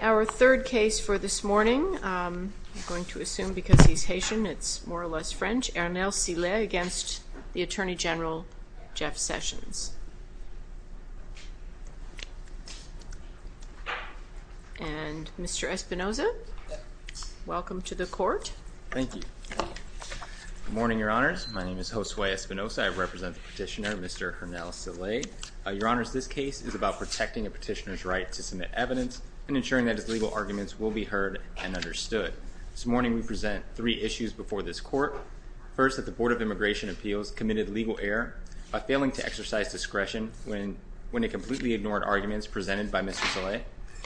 Our third case for this morning, I'm going to assume because he's Haitian it's more less French, Hernel Silais against the Attorney General Jeff Sessions. And Mr. Espinoza, welcome to the court. Thank you. Good morning, Your Honors. My name is Josue Espinoza. I represent the petitioner, Mr. Hernel Silais. Your Honors, this case is about protecting a petitioner's right to submit evidence and ensuring that his legal arguments will be heard and understood. This morning we present three issues before this court. First, that the Board of Immigration Appeals committed legal error by failing to exercise discretion when it completely ignored arguments presented by Mr. Silais.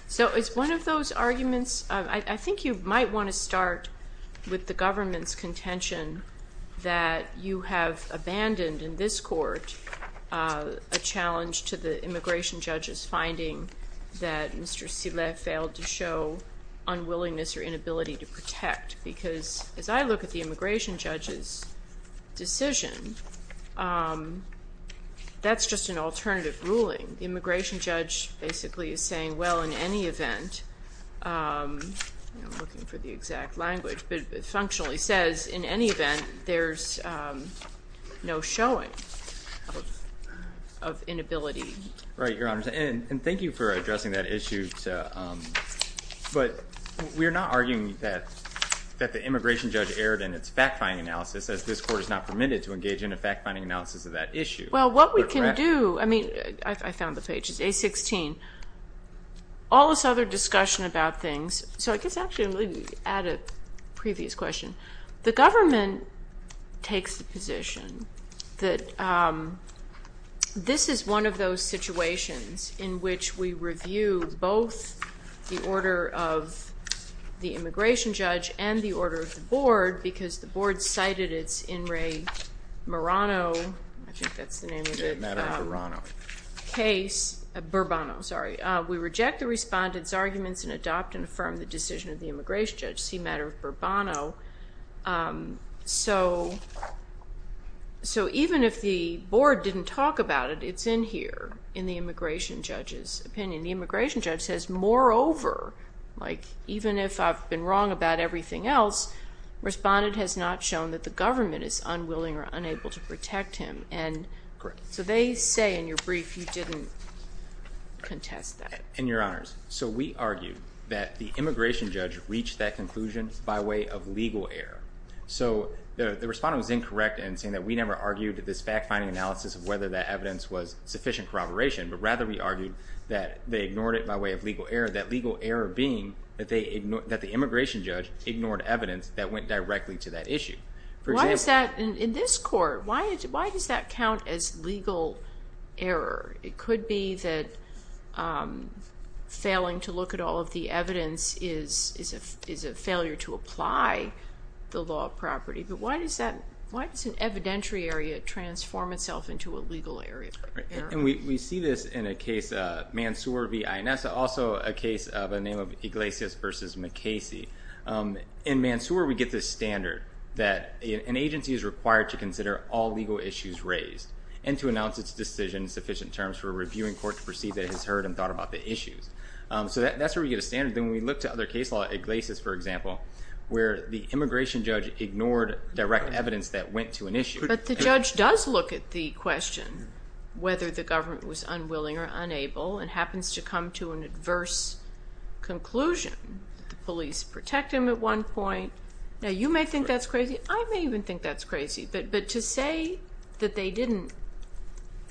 So it's one of those arguments, I think you might want to start with the government's contention that you have abandoned in this court a challenge to the immigration judge's finding that Mr. Silais failed to show unwillingness or inability to protect. Because as I look at the immigration judge's decision, that's just an alternative ruling. The immigration judge basically is saying, well, in any event, I'm looking for inability. Right, Your Honors. And thank you for addressing that issue. But we're not arguing that the immigration judge erred in its fact-finding analysis, as this court is not permitted to engage in a fact-finding analysis of that issue. Well, what we can do, I mean, I found the page, it's A16. All this other discussion about things, so I guess it's one of those situations in which we review both the order of the immigration judge and the order of the board, because the board cited its In re Murano, I think that's the name of it, Murano case, Burbano, sorry. We reject the respondent's arguments and adopt and affirm the decision of the immigration judge, C. Matter of Burbano. So even if the in here, in the immigration judge's opinion, the immigration judge says, moreover, like even if I've been wrong about everything else, respondent has not shown that the government is unwilling or unable to protect him. Correct. So they say in your brief, you didn't contest that. And Your Honors, so we argue that the immigration judge reached that conclusion by way of legal error. So the respondent was incorrect in saying that we never argued that this fact-finding analysis of whether that evidence was sufficient corroboration, but rather we argued that they ignored it by way of legal error. That legal error being that the immigration judge ignored evidence that went directly to that issue. Why does that in this court, why does that count as legal error? It could be that failing to look at all of the evidence is a failure to apply the law of property, but why does that, why does it transform itself into a legal error? And we see this in a case, Mansour v. Inessa, also a case by the name of Iglesias v. McCasey. In Mansour, we get this standard that an agency is required to consider all legal issues raised and to announce its decision in sufficient terms for a reviewing court to perceive that it has heard and thought about the issues. So that's where we get a standard. Then we look to other case law, Iglesias for example, the immigration judge ignored direct evidence that went to an issue. But the judge does look at the question, whether the government was unwilling or unable, and happens to come to an adverse conclusion. The police protect him at one point. Now you may think that's crazy, I may even think that's crazy, but to say that they didn't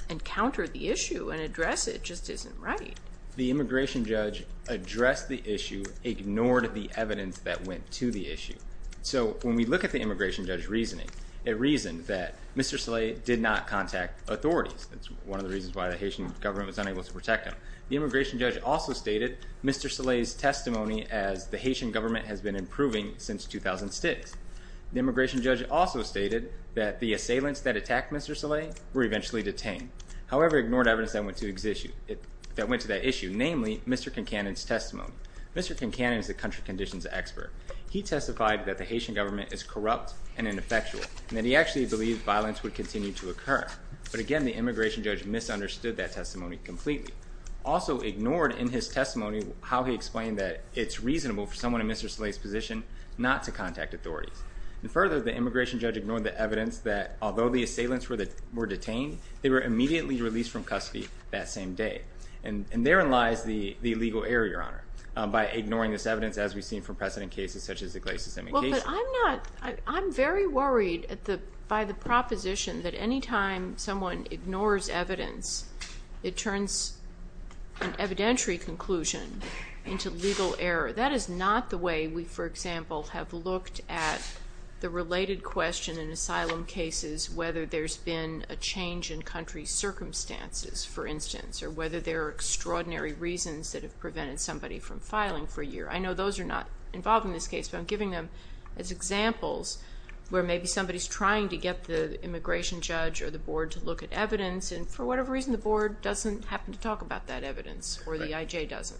encounter the issue and address it just isn't right. The immigration judge addressed the issue, ignored the evidence that went to the issue. So when we look at the immigration judge's reasoning, it reasoned that Mr. Saleh did not contact authorities. That's one of the reasons why the Haitian government was unable to protect him. The immigration judge also stated Mr. Saleh's testimony as the Haitian government has been improving since 2006. The immigration judge also stated that the assailants that attacked Mr. Saleh were eventually detained, however ignored evidence that went to that issue, namely Mr. Concanon's testimony. Mr. Concanon is a country conditions expert. He testified that the Haitian government is corrupt and ineffectual, and that he actually believed violence would continue to occur. But again, the immigration judge misunderstood that testimony completely. Also ignored in his testimony how he explained that it's reasonable for someone in Mr. Saleh's position not to contact authorities. And further, the immigration judge ignored the evidence that although the assailants were detained, they were immediately released from custody that same day. And there in lies the legal error, Your Honor, by ignoring this evidence as we've seen from precedent cases such as the Glacis immigration. Well, but I'm not, I'm very worried by the proposition that any time someone ignores evidence, it turns an evidentiary conclusion into legal error. That is not the way we, for example, have looked at the related question in asylum cases, whether there's been a change in country circumstances, for instance, or whether there are extraordinary reasons that have prevented somebody from filing for a year. I know those are not involved in this case, but I'm giving them as examples where maybe somebody's trying to get the immigration judge or the board to look at evidence, and for whatever reason the board doesn't happen to talk about that evidence, or the IJ doesn't.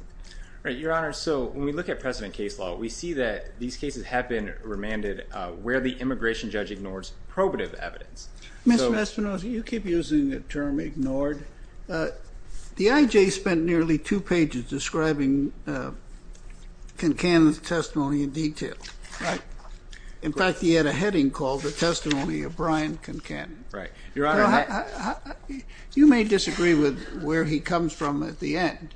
Right, Your Honor, so when we look at precedent case law, we see that these cases have been remanded where the immigration judge ignores probative evidence. Mr. Mespinosa, you keep using the term ignored. The IJ spent nearly two pages describing Kincannon's testimony in detail. In fact, he had a heading called the testimony of Brian Kincannon. You may disagree with where he comes from at the end,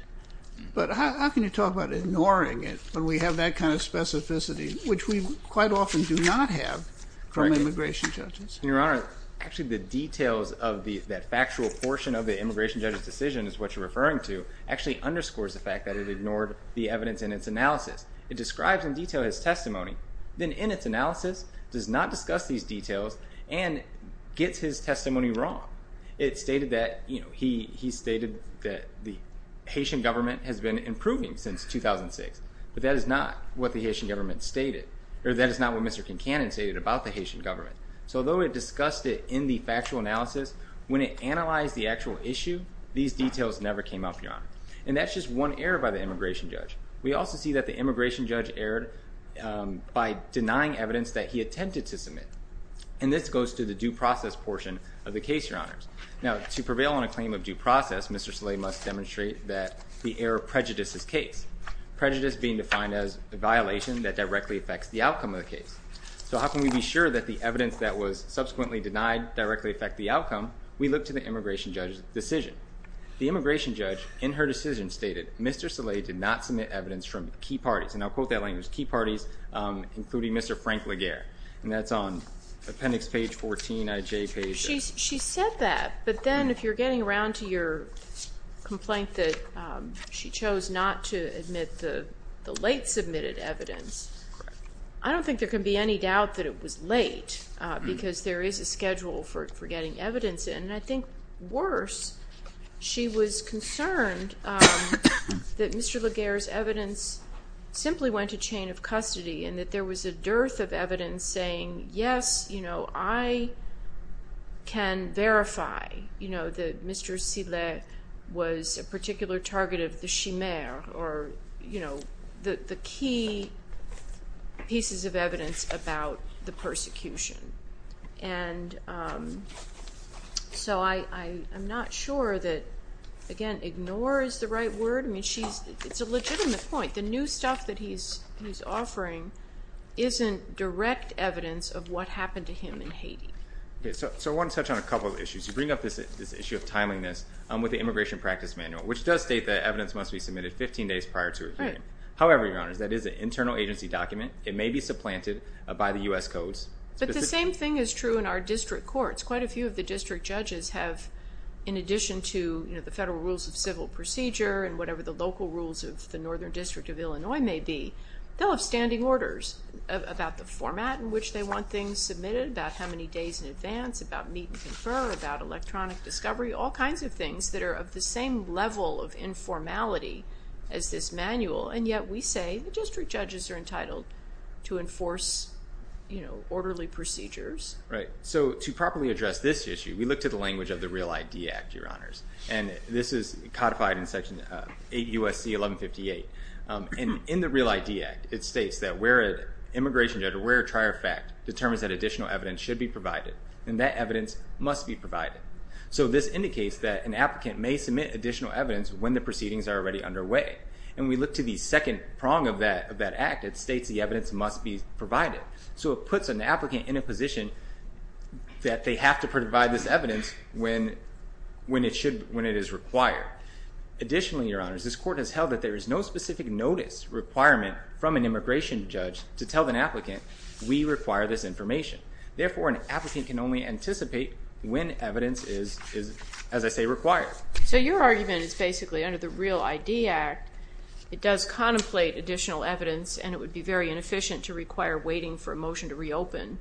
but how can you talk about ignoring it when we have that kind of specificity, which we quite often do not have from immigration judges? Your Honor, actually the details of that factual portion of the immigration judge's decision is what you're referring to, actually underscores the fact that it ignored the evidence in its analysis. It describes in detail his testimony, then in its analysis does not discuss these details and gets his testimony wrong. It stated that the Haitian government has been improving since 2006, but that is not what the Haitian government stated, or that is not what Mr. Kincannon stated about the When it analyzed the actual issue, these details never came up, Your Honor. And that's just one error by the immigration judge. We also see that the immigration judge erred by denying evidence that he attempted to submit. And this goes to the due process portion of the case, Your Honors. Now, to prevail on a claim of due process, Mr. Saleh must demonstrate that the error prejudices his case. Prejudice being defined as a violation that directly affects the outcome of the case. So how can we be sure that the evidence that was subsequently denied directly affect the outcome? We look to the immigration judge's decision. The immigration judge, in her decision, stated Mr. Saleh did not submit evidence from key parties. And I'll quote that language, key parties, including Mr. Frank Laguerre. And that's on appendix page 14, IJ page. She said that, but then if you're getting around to your complaint that she chose not to admit the late submitted evidence, I don't think there can be any doubt that it was late, because there is a schedule for getting evidence. And I think worse, she was concerned that Mr. Laguerre's evidence simply went to chain of custody, and that there was a dearth of evidence saying, yes, I can verify that Mr. Saleh was a particular target of the chimere, or the key pieces of evidence about the persecution. And so I'm not sure that, again, ignore is the right word. I mean, it's a legitimate point. The new stuff that he's offering isn't direct evidence of what happened to him in Haiti. So I want to touch on a couple of issues. You bring up this issue of timeliness with the Immigration Practice Manual, which does state that evidence must be submitted 15 days prior to review. However, Your Honors, that is an internal agency document. It may be supplanted by the U.S. codes. But the same thing is true in our district courts. Quite a few of the district judges have, in addition to the Federal Rules of Civil Procedure and whatever the local rules of the Northern District of Illinois may be, they'll have standing orders about the format in which they want things submitted, about how many days in advance, about meet and confer, about electronic discovery, all kinds of things that are of the same level of informality as this manual. And yet we say the district judges are entitled to enforce orderly procedures. Right. So to properly address this issue, we look to the language of the Real ID Act, Your Honors. And this is codified in Section 8 U.S.C. 1158. And in the Real ID Act, it states that where an immigration judge or where a trier of fact determines that additional evidence should be provided, then that evidence must be provided. So this indicates that an applicant may submit additional evidence when the proceedings are already underway. And we look to the second prong of that act. It states the evidence must be provided. So it puts an applicant in a position that they have to provide this evidence when it is required. Additionally, Your Honors, this court has held that there is no specific notice requirement from an immigration judge to tell an applicant, we require this information. Therefore, an applicant can only anticipate when evidence is, as I say, required. So your argument is basically under the Real ID Act, it does contemplate additional evidence and it would be very inefficient to require waiting for a motion to reopen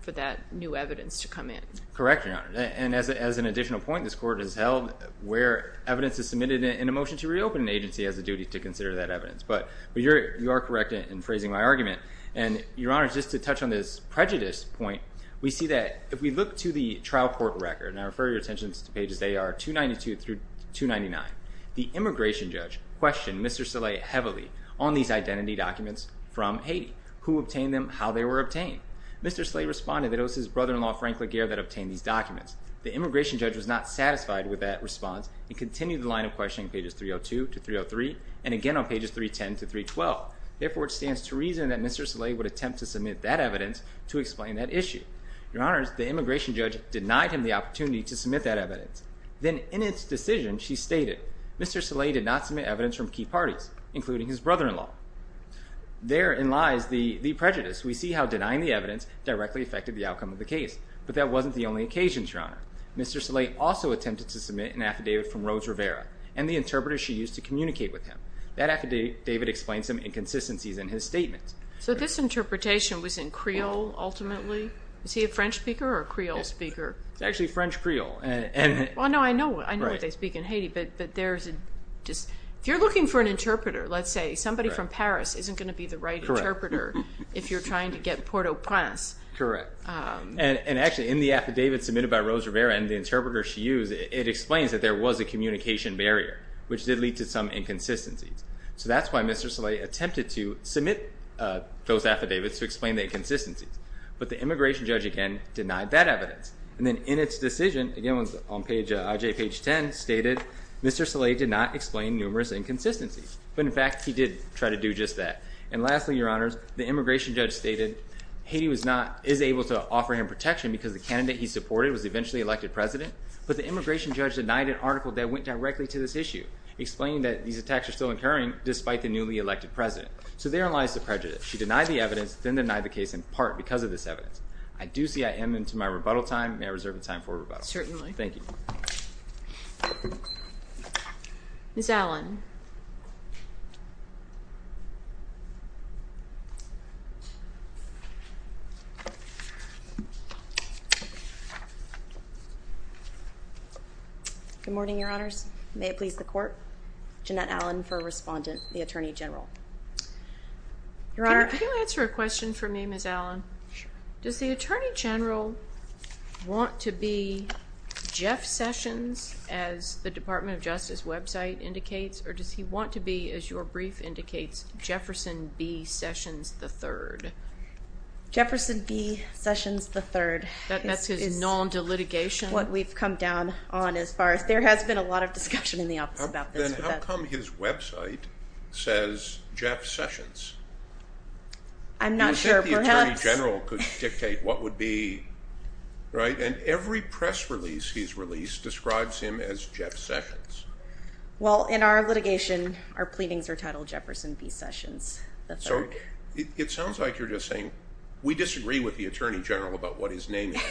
for that new evidence to come in. Correct, Your Honor. And as an additional point, this court has held where evidence is submitted in a motion to reopen, an agency has a duty to consider that evidence. But you are correct in phrasing my argument. And Your Honors, just to touch on this prejudice point, we see that if we look to the trial court record, and I refer your attention to pages A.R. 292 through 299, the immigration judge questioned Mr. Saleh heavily on these identity documents from Haiti. Who obtained them? How they were obtained? Mr. Saleh responded that it was his brother-in-law, Frank Laguerre, that obtained these documents. The immigration judge was not satisfied with that response and continued the line of questioning pages 302 to 303 and again on pages 310 to 312. Therefore, it stands to reason that Mr. Saleh would attempt to submit that evidence to explain that issue. Your Honors, the immigration judge denied him the opportunity to submit that evidence. Then in its decision, she stated, Mr. Saleh did not submit evidence from key parties, including his brother-in-law. Therein lies the prejudice. We see how denying the evidence directly affected the outcome of the case. But that wasn't the only occasion, Your Honor. Mr. Saleh also attempted to submit an affidavit from Rose Rivera and the interpreter she used to communicate with him. That affidavit explains some inconsistencies in his statement. So this interpretation was in Creole, ultimately? Is he a French speaker or a Creole speaker? It's actually French Creole. Well, no, I know what they speak in Haiti, but there's just... If you're looking for an interpreter, let's say somebody from Paris isn't going to be the right interpreter if you're trying to get Port-au-Prince. Correct. And actually, in the affidavit submitted by Rose Rivera and the interpreter she used, it explains that there was a communication barrier, which did lead to some inconsistencies. So that's why Mr. Saleh attempted to submit those affidavits to explain the inconsistencies. But the immigration judge, again, denied that evidence. And then in its decision, again, on page, IJ page 10, stated, Mr. Saleh did not explain numerous inconsistencies. But in fact, he did try to do just that. And lastly, Your Honors, the immigration judge stated, Haiti is able to offer him protection because the candidate he supported was eventually elected president. But the immigration judge denied an article that went directly to this issue, explaining that these attacks are still occurring despite the newly elected president. So therein lies the prejudice. She denied the evidence, then denied the case in part because of this evidence. I do see I am into my rebuttal time. May I reserve the time for rebuttal? Certainly. Thank you. Ms. Allen. Good morning, Your Honors. May it please the court. Jeanette Allen for Respondent, the Attorney General. Your Honor. Can you answer a question for me, Ms. Allen? Sure. Does the Attorney General want to be Jeff Sessions, as the Department of Justice website indicates? Or does he want to be, as your brief indicates, Jefferson B. Sessions III? Jefferson B. Sessions III. That's his non-delitigation? That's what we've come down on as far as... There has been a lot of discussion in the office about this. Then how come his website says Jeff Sessions? I'm not sure. Perhaps... Do you think the Attorney General could dictate what would be... Right? And every press release he's released describes him as Jeff Sessions. Well, in our litigation, our pleadings are titled Jefferson B. Sessions III. So, it sounds like you're just saying, we disagree with the Attorney General about what his name is.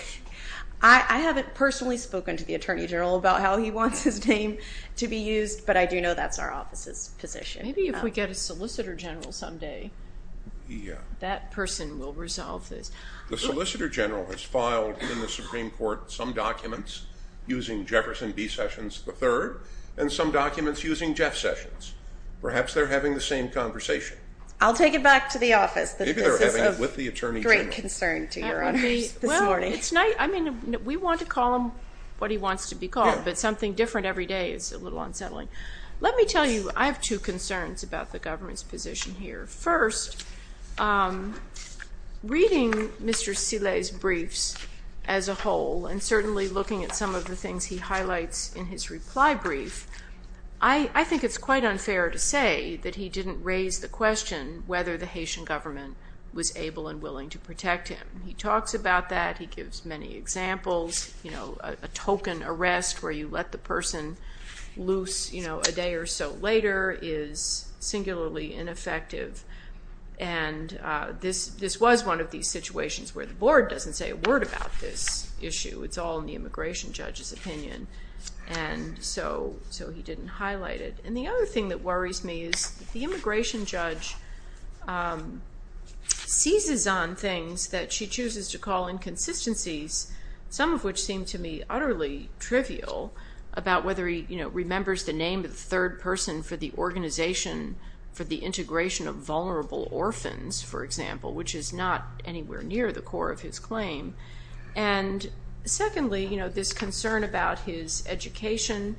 I haven't personally spoken to the Attorney General about how he wants his name to be used, but I do know that's our office's position. Maybe if we get a Solicitor General someday, that person will resolve this. The Solicitor General has filed in the Supreme Court some documents using Jefferson B. Sessions III and some documents using Jeff Sessions. Perhaps they're having the same conversation. I'll take it back to the office. Maybe they're having it with the Attorney General. Great concern to your honors this morning. Well, it's not... I mean, we want to call him what he wants to be called, but something different every day is a little unsettling. Let me tell you, I have two concerns about the government's position here. First, reading Mr. Sillet's briefs as a whole, and certainly looking at some of the things he highlights in his reply brief, I think it's quite unfair to say that he didn't raise the question whether the Haitian government was able and willing to protect him. He talks about that. He gives many examples. You know, a token arrest where you let the person loose, you know, a day or so later is singularly ineffective, and this was one of these situations where the board doesn't say a word about this issue. It's all in the immigration judge's opinion, and so he didn't highlight it. And the other thing that worries me is the immigration judge seizes on things that she chooses to call inconsistencies, some of which seem to me utterly trivial, about whether he, you know, remembers the name of the third person for the organization for the integration of vulnerable orphans, for example, which is not anywhere near the core of his claim. And secondly, you know, this concern about his education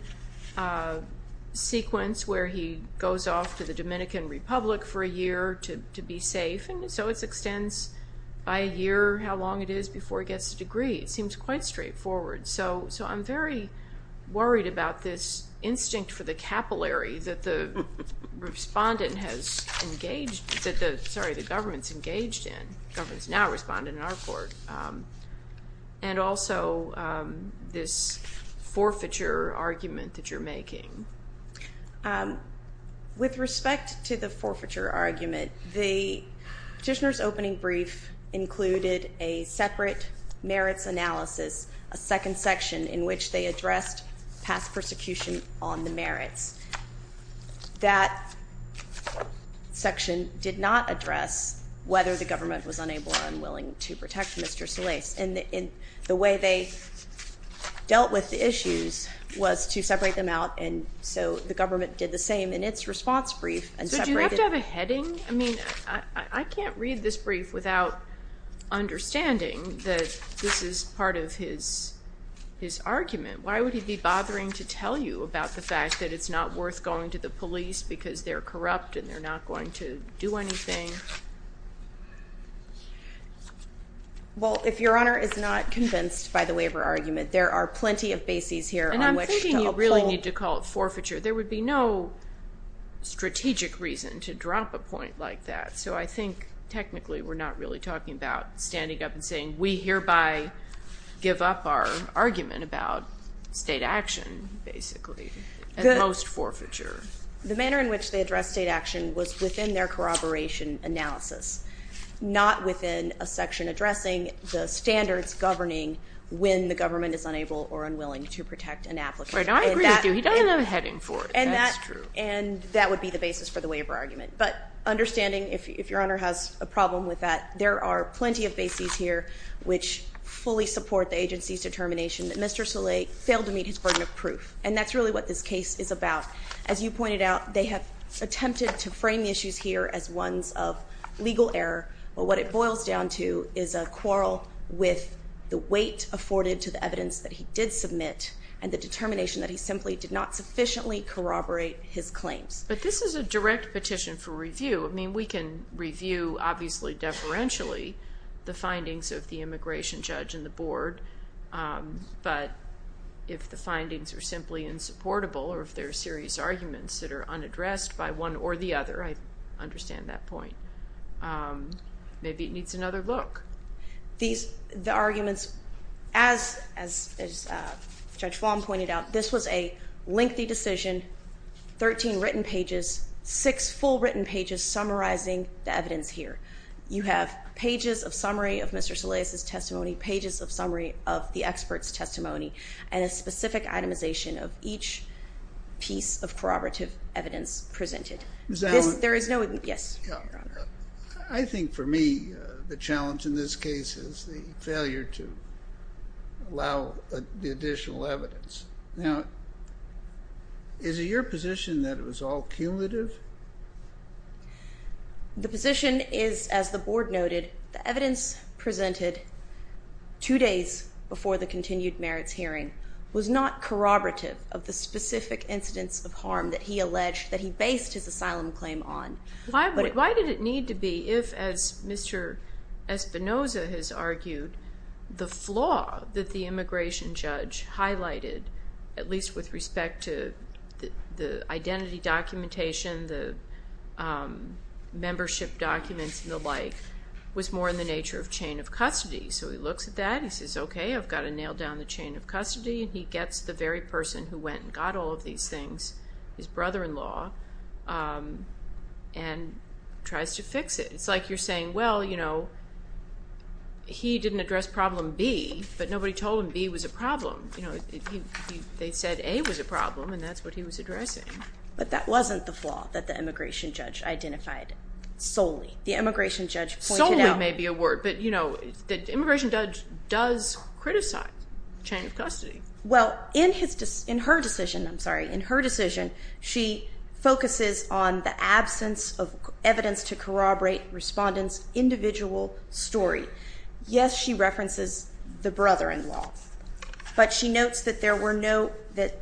sequence, where he goes off to the Dominican Republic for a year to be safe, and so it extends by a year how long it is before he gets a degree. It seems quite straightforward. So I'm very worried about this instinct for the capillary that the respondent has engaged, sorry, the government's engaged in, the government's now responded in our court, and also this forfeiture argument that you're making. With respect to the forfeiture argument, the petitioner's opening brief included a separate merits analysis, a second section in which they addressed past persecution on the merits. That section did not address whether the government was unable or unwilling to protect Mr. Solis. And the way they dealt with the issues was to separate them out, and so the government did the same in its response brief and separated. So do you have to have a heading? I mean, I can't read this brief without understanding that this is part of his argument. Why would he be bothering to tell you about the fact that it's not worth going to the police because they're corrupt and they're not going to do anything? Well, if Your Honor is not convinced by the waiver argument, there are plenty of bases here on which to uphold. And I'm thinking you really need to call it forfeiture. There would be no strategic reason to drop a point like that. So I think technically we're not really talking about standing up and saying, we hereby give up our argument about state action, basically, and most forfeiture. The manner in which they addressed state action was within their corroboration analysis, not within a section addressing the standards governing when the government is unable or unwilling to protect an applicant. Right, I agree with you. He doesn't have a heading for it. That's true. And that would be the basis for the waiver argument. But understanding, if Your Honor has a problem with that, there are plenty of bases here which fully support the agency's determination that Mr. Saleh failed to meet his burden of proof. And that's really what this case is about. As you pointed out, they have attempted to frame the issues here as ones of legal error. But what it boils down to is a quarrel with the weight afforded to the evidence that he did submit and the determination that he simply did not sufficiently corroborate his claims. But this is a direct petition for review. I mean, we can review, obviously deferentially, the findings of the immigration judge and the board. But if the findings are simply insupportable or if there are serious arguments that are unaddressed by one or the other, I understand that point. Maybe it needs another look. The arguments, as Judge Vaughn pointed out, this was a lengthy decision, 13 written pages, 6 full written pages summarizing the evidence here. You have pages of summary of Mr. Saleh's testimony, pages of summary of the expert's testimony, and a specific itemization of each piece of corroborative evidence presented. There is no... Yes. I think for me, the challenge in this case is the failure to allow the additional evidence. Now, is it your position that it was all cumulative? The position is, as the board noted, the evidence presented 2 days before the continued merits hearing was not corroborative of the specific incidents of harm that he alleged that he based his asylum claim on. Why did it need to be if, as Mr. Espinoza has argued, the flaw that the immigration judge highlighted, at least with respect to the identity documentation, the membership documents and the like, was more in the nature of chain of custody. So he looks at that, he says, okay, I've got to nail down the chain of custody, and he gets the very person who went and got all of these things, his brother-in-law, and tries to fix it. It's like you're saying, well, you know, he didn't address problem B, but nobody told him B was a problem. They said A was a problem, and that's what he was addressing. But that wasn't the flaw that the immigration judge identified solely. The immigration judge pointed out... Solely may be a word, but, you know, the immigration judge does criticize chain of custody. Well, in her decision, I'm sorry, in her decision, she focuses on the absence of evidence to corroborate respondents' individual story. Yes, she references the brother-in-law, but she notes that there were no, that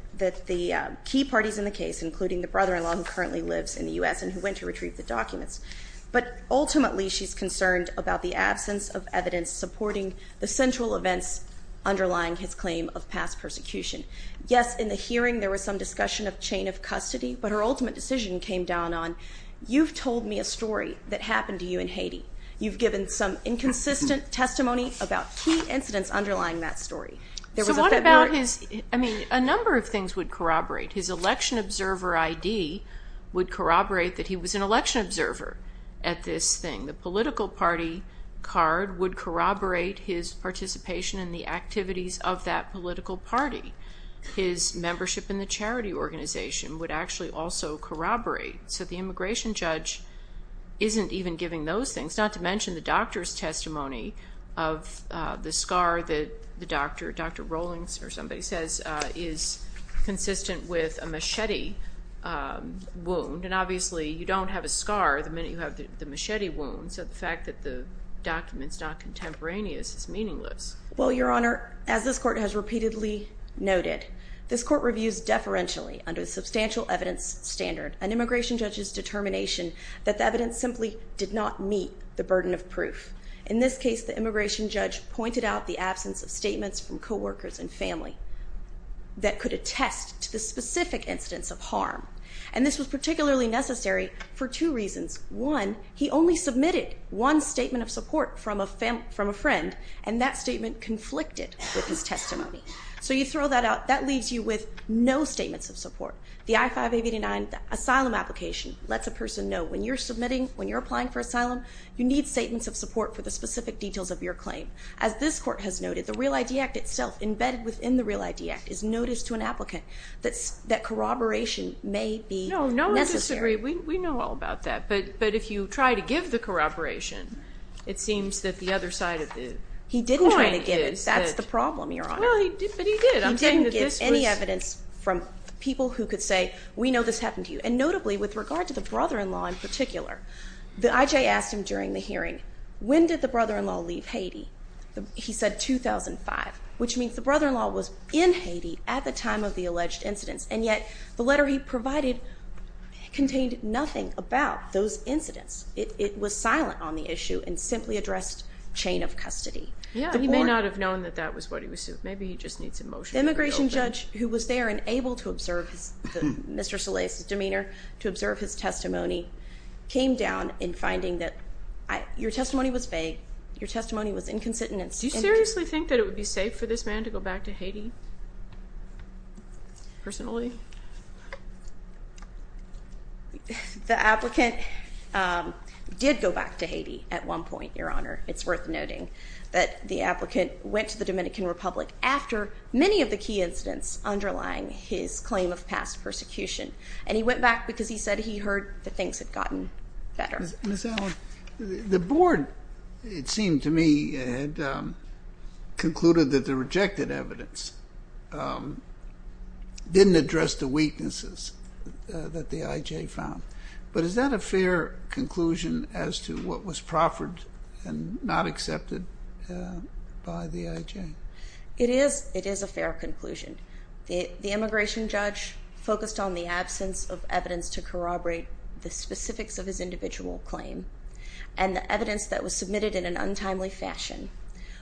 the key parties in the case, including the brother-in-law who currently lives in the U.S. and who went to retrieve the documents, but ultimately, she's concerned about the absence of evidence supporting the central events underlying his claim of past persecution. Yes, in the hearing, there was some discussion of chain of custody, but her ultimate decision came down on, you've told me a story that happened to you in Haiti. You've given some inconsistent testimony about key incidents underlying that story. So what about his, I mean, a number of things would corroborate. His election observer ID would corroborate that he was an election observer at this thing. The political party card would corroborate his participation in the activities of that political party. His membership in the charity organization would actually also corroborate. So the immigration judge isn't even giving those things, not to mention the doctor's testimony of the scar that the doctor, Dr. Rowlings or somebody says, is consistent with a machete wound. And obviously, you don't have a scar the minute you have the machete wound, so the fact that the document's not contemporaneous is meaningless. Well, Your Honor, as this court has repeatedly noted, this court reviews deferentially under a substantial evidence standard, an immigration judge's determination that the evidence simply did not meet the burden of proof. In this case, the immigration judge pointed out the absence of statements from co-workers and family that could attest to the specific incidents of harm. And this was particularly necessary for two reasons. One, he only submitted one statement of support from a friend, and that statement conflicted with his testimony. So you throw that out, that leaves you with no statements of support. The I-589 asylum application lets a person know when you're submitting, when you're applying for asylum, you need statements of support for the specific details of your claim. As this court has noted, the Real ID Act itself, embedded within the Real ID Act, is notice to an applicant that corroboration may be necessary. No, no one disagrees. We know all about that. But if you try to give the corroboration, it seems that the other side of the coin is that... He didn't try to give it. That's the problem, Your Honor. Well, but he did. I'm saying that this was... He didn't give any evidence from people who could say, we know this happened to you. And notably, with regard to the brother-in-law in particular, the IJ asked him during the hearing, when did the brother-in-law leave Haiti? He said 2005, which means the brother-in-law was in Haiti at the time of the alleged incidents. And yet, the letter he provided contained nothing about those incidents. It was silent on the issue and simply addressed chain of custody. Yeah, he may not have known that that was what he was suing. Maybe he just needs a motion to reopen. The immigration judge who was there and able to observe Mr. Solais' demeanor, to observe his testimony, came down in finding that your testimony was vague. Your testimony was inconsistent. Do you seriously think that it would be safe for this man to go back to Haiti? Personally? The applicant did go back to Haiti at one point, Your Honor. It's worth noting that the applicant went to the Dominican Republic after many of the key incidents underlying his claim of past persecution. And he went back because he said he heard that things had gotten better. Ms. Allen, the board, it seemed to me, had concluded that the rejected evidence didn't address the weaknesses that the IJ found. But is that a fair conclusion as to what was proffered and not accepted by the IJ? It is a fair conclusion. The immigration judge focused on the absence of evidence to corroborate the specifics of his individual claim. And the evidence that was submitted in an untimely fashion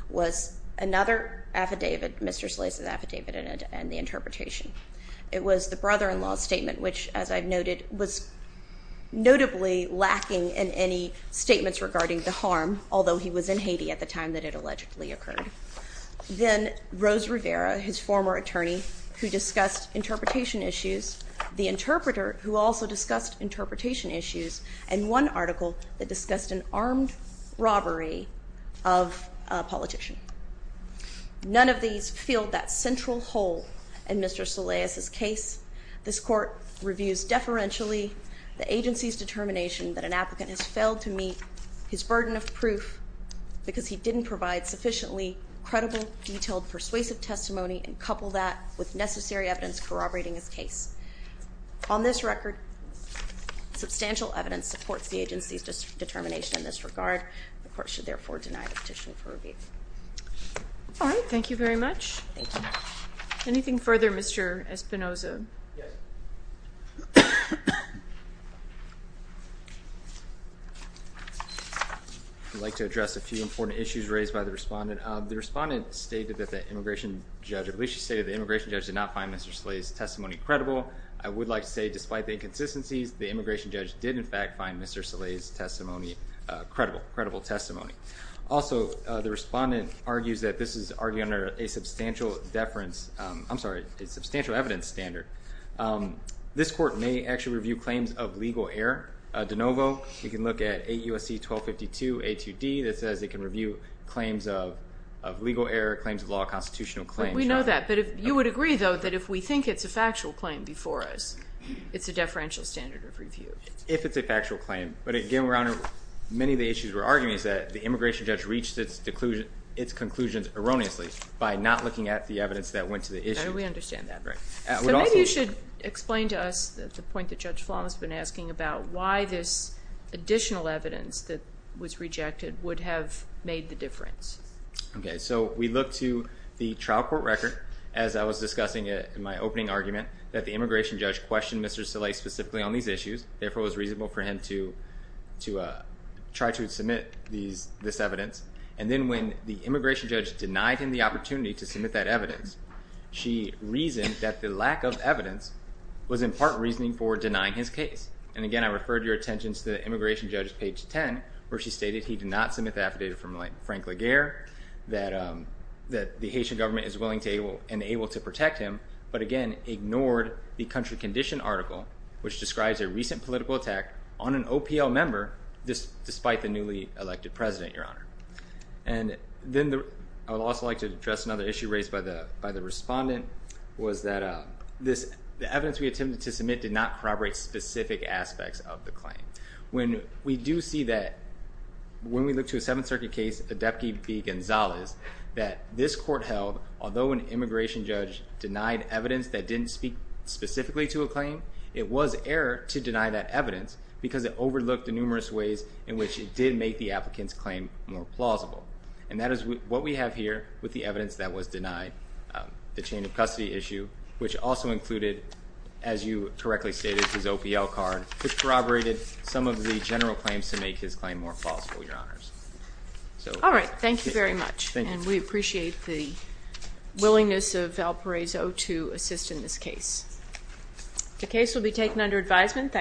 was another affidavit, Mr. Solais' affidavit, and the interpretation. It was the brother-in-law's statement, which, as I've noted, was notably lacking in any statements regarding the harm, although he was in Haiti at the time that it allegedly occurred. Then, Rose Rivera, his former attorney, who discussed interpretation issues, the interpreter, who also discussed interpretation issues, and one article that discussed an armed robbery of a politician. None of these filled that central hole in Mr. Solais' case. This court reviews deferentially the agency's determination that an applicant has failed to meet his burden of proof because he didn't provide sufficiently credible, detailed, persuasive testimony and coupled that with necessary evidence corroborating his case. On this record, substantial evidence supports the agency's determination in this regard. The court should therefore deny the petition for review. All right. Thank you very much. Anything further, Mr. Espinoza? Yes. I'd like to address a few important issues raised by the respondent. The respondent stated that the immigration judge did not find Mr. Solais' testimony credible. I would like to say, despite the inconsistencies, the immigration judge did, in fact, find Mr. Solais' testimony credible. Also, the respondent argues that this is argued under a substantial evidence standard. This court may actually review claims of legal error de novo. We can look at 8 U.S.C. 1252 A.2.D. that says it can review claims of legal error, claims of law, constitutional claims. We know that, but you would agree, though, that if we think it's a factual claim before us, it's a deferential standard of review. If it's a factual claim. But again, Your Honor, many of the issues we're arguing is that the immigration judge reached its conclusions erroneously by not looking at the evidence that went to the issue. We understand that. Maybe you should explain to us the point that Judge Flom has been asking about why this additional evidence that was rejected would have made the difference. Okay, so we look to the trial court record, as I was discussing in my opening argument, that the immigration judge questioned Mr. Solais specifically on these issues. Therefore, it was reasonable for him to try to submit this evidence. And then when the immigration judge denied him the opportunity to submit that evidence, she reasoned that the lack of evidence was in part reasoning for denying his case. And again, I referred your attention to the immigration judge's page 10 where she stated he did not submit the affidavit from Frank Laguerre, that the Haitian government is willing and able to protect him, but again, ignored the country condition article, which describes a recent political attack on an OPL member, despite the newly elected president, Your Honor. And then I would also like to address another issue raised by the respondent, was that the evidence we attempted to submit did not corroborate specific aspects of the claim. When we do see that, when we look to a Seventh Circuit case, Adepte v. Gonzalez, that this court held, although an immigration judge denied evidence that didn't speak specifically to a claim, it was error to deny that evidence in which it did make the applicant's claim more plausible. And that is what we have here with the evidence that was denied, the chain of custody issue, which also included, as you correctly stated, his OPL card, which corroborated some of the general claims to make his claim more plausible, Your Honors. All right, thank you very much. And we appreciate the willingness of Valparaiso to assist in this case. The case will be taken under advisement.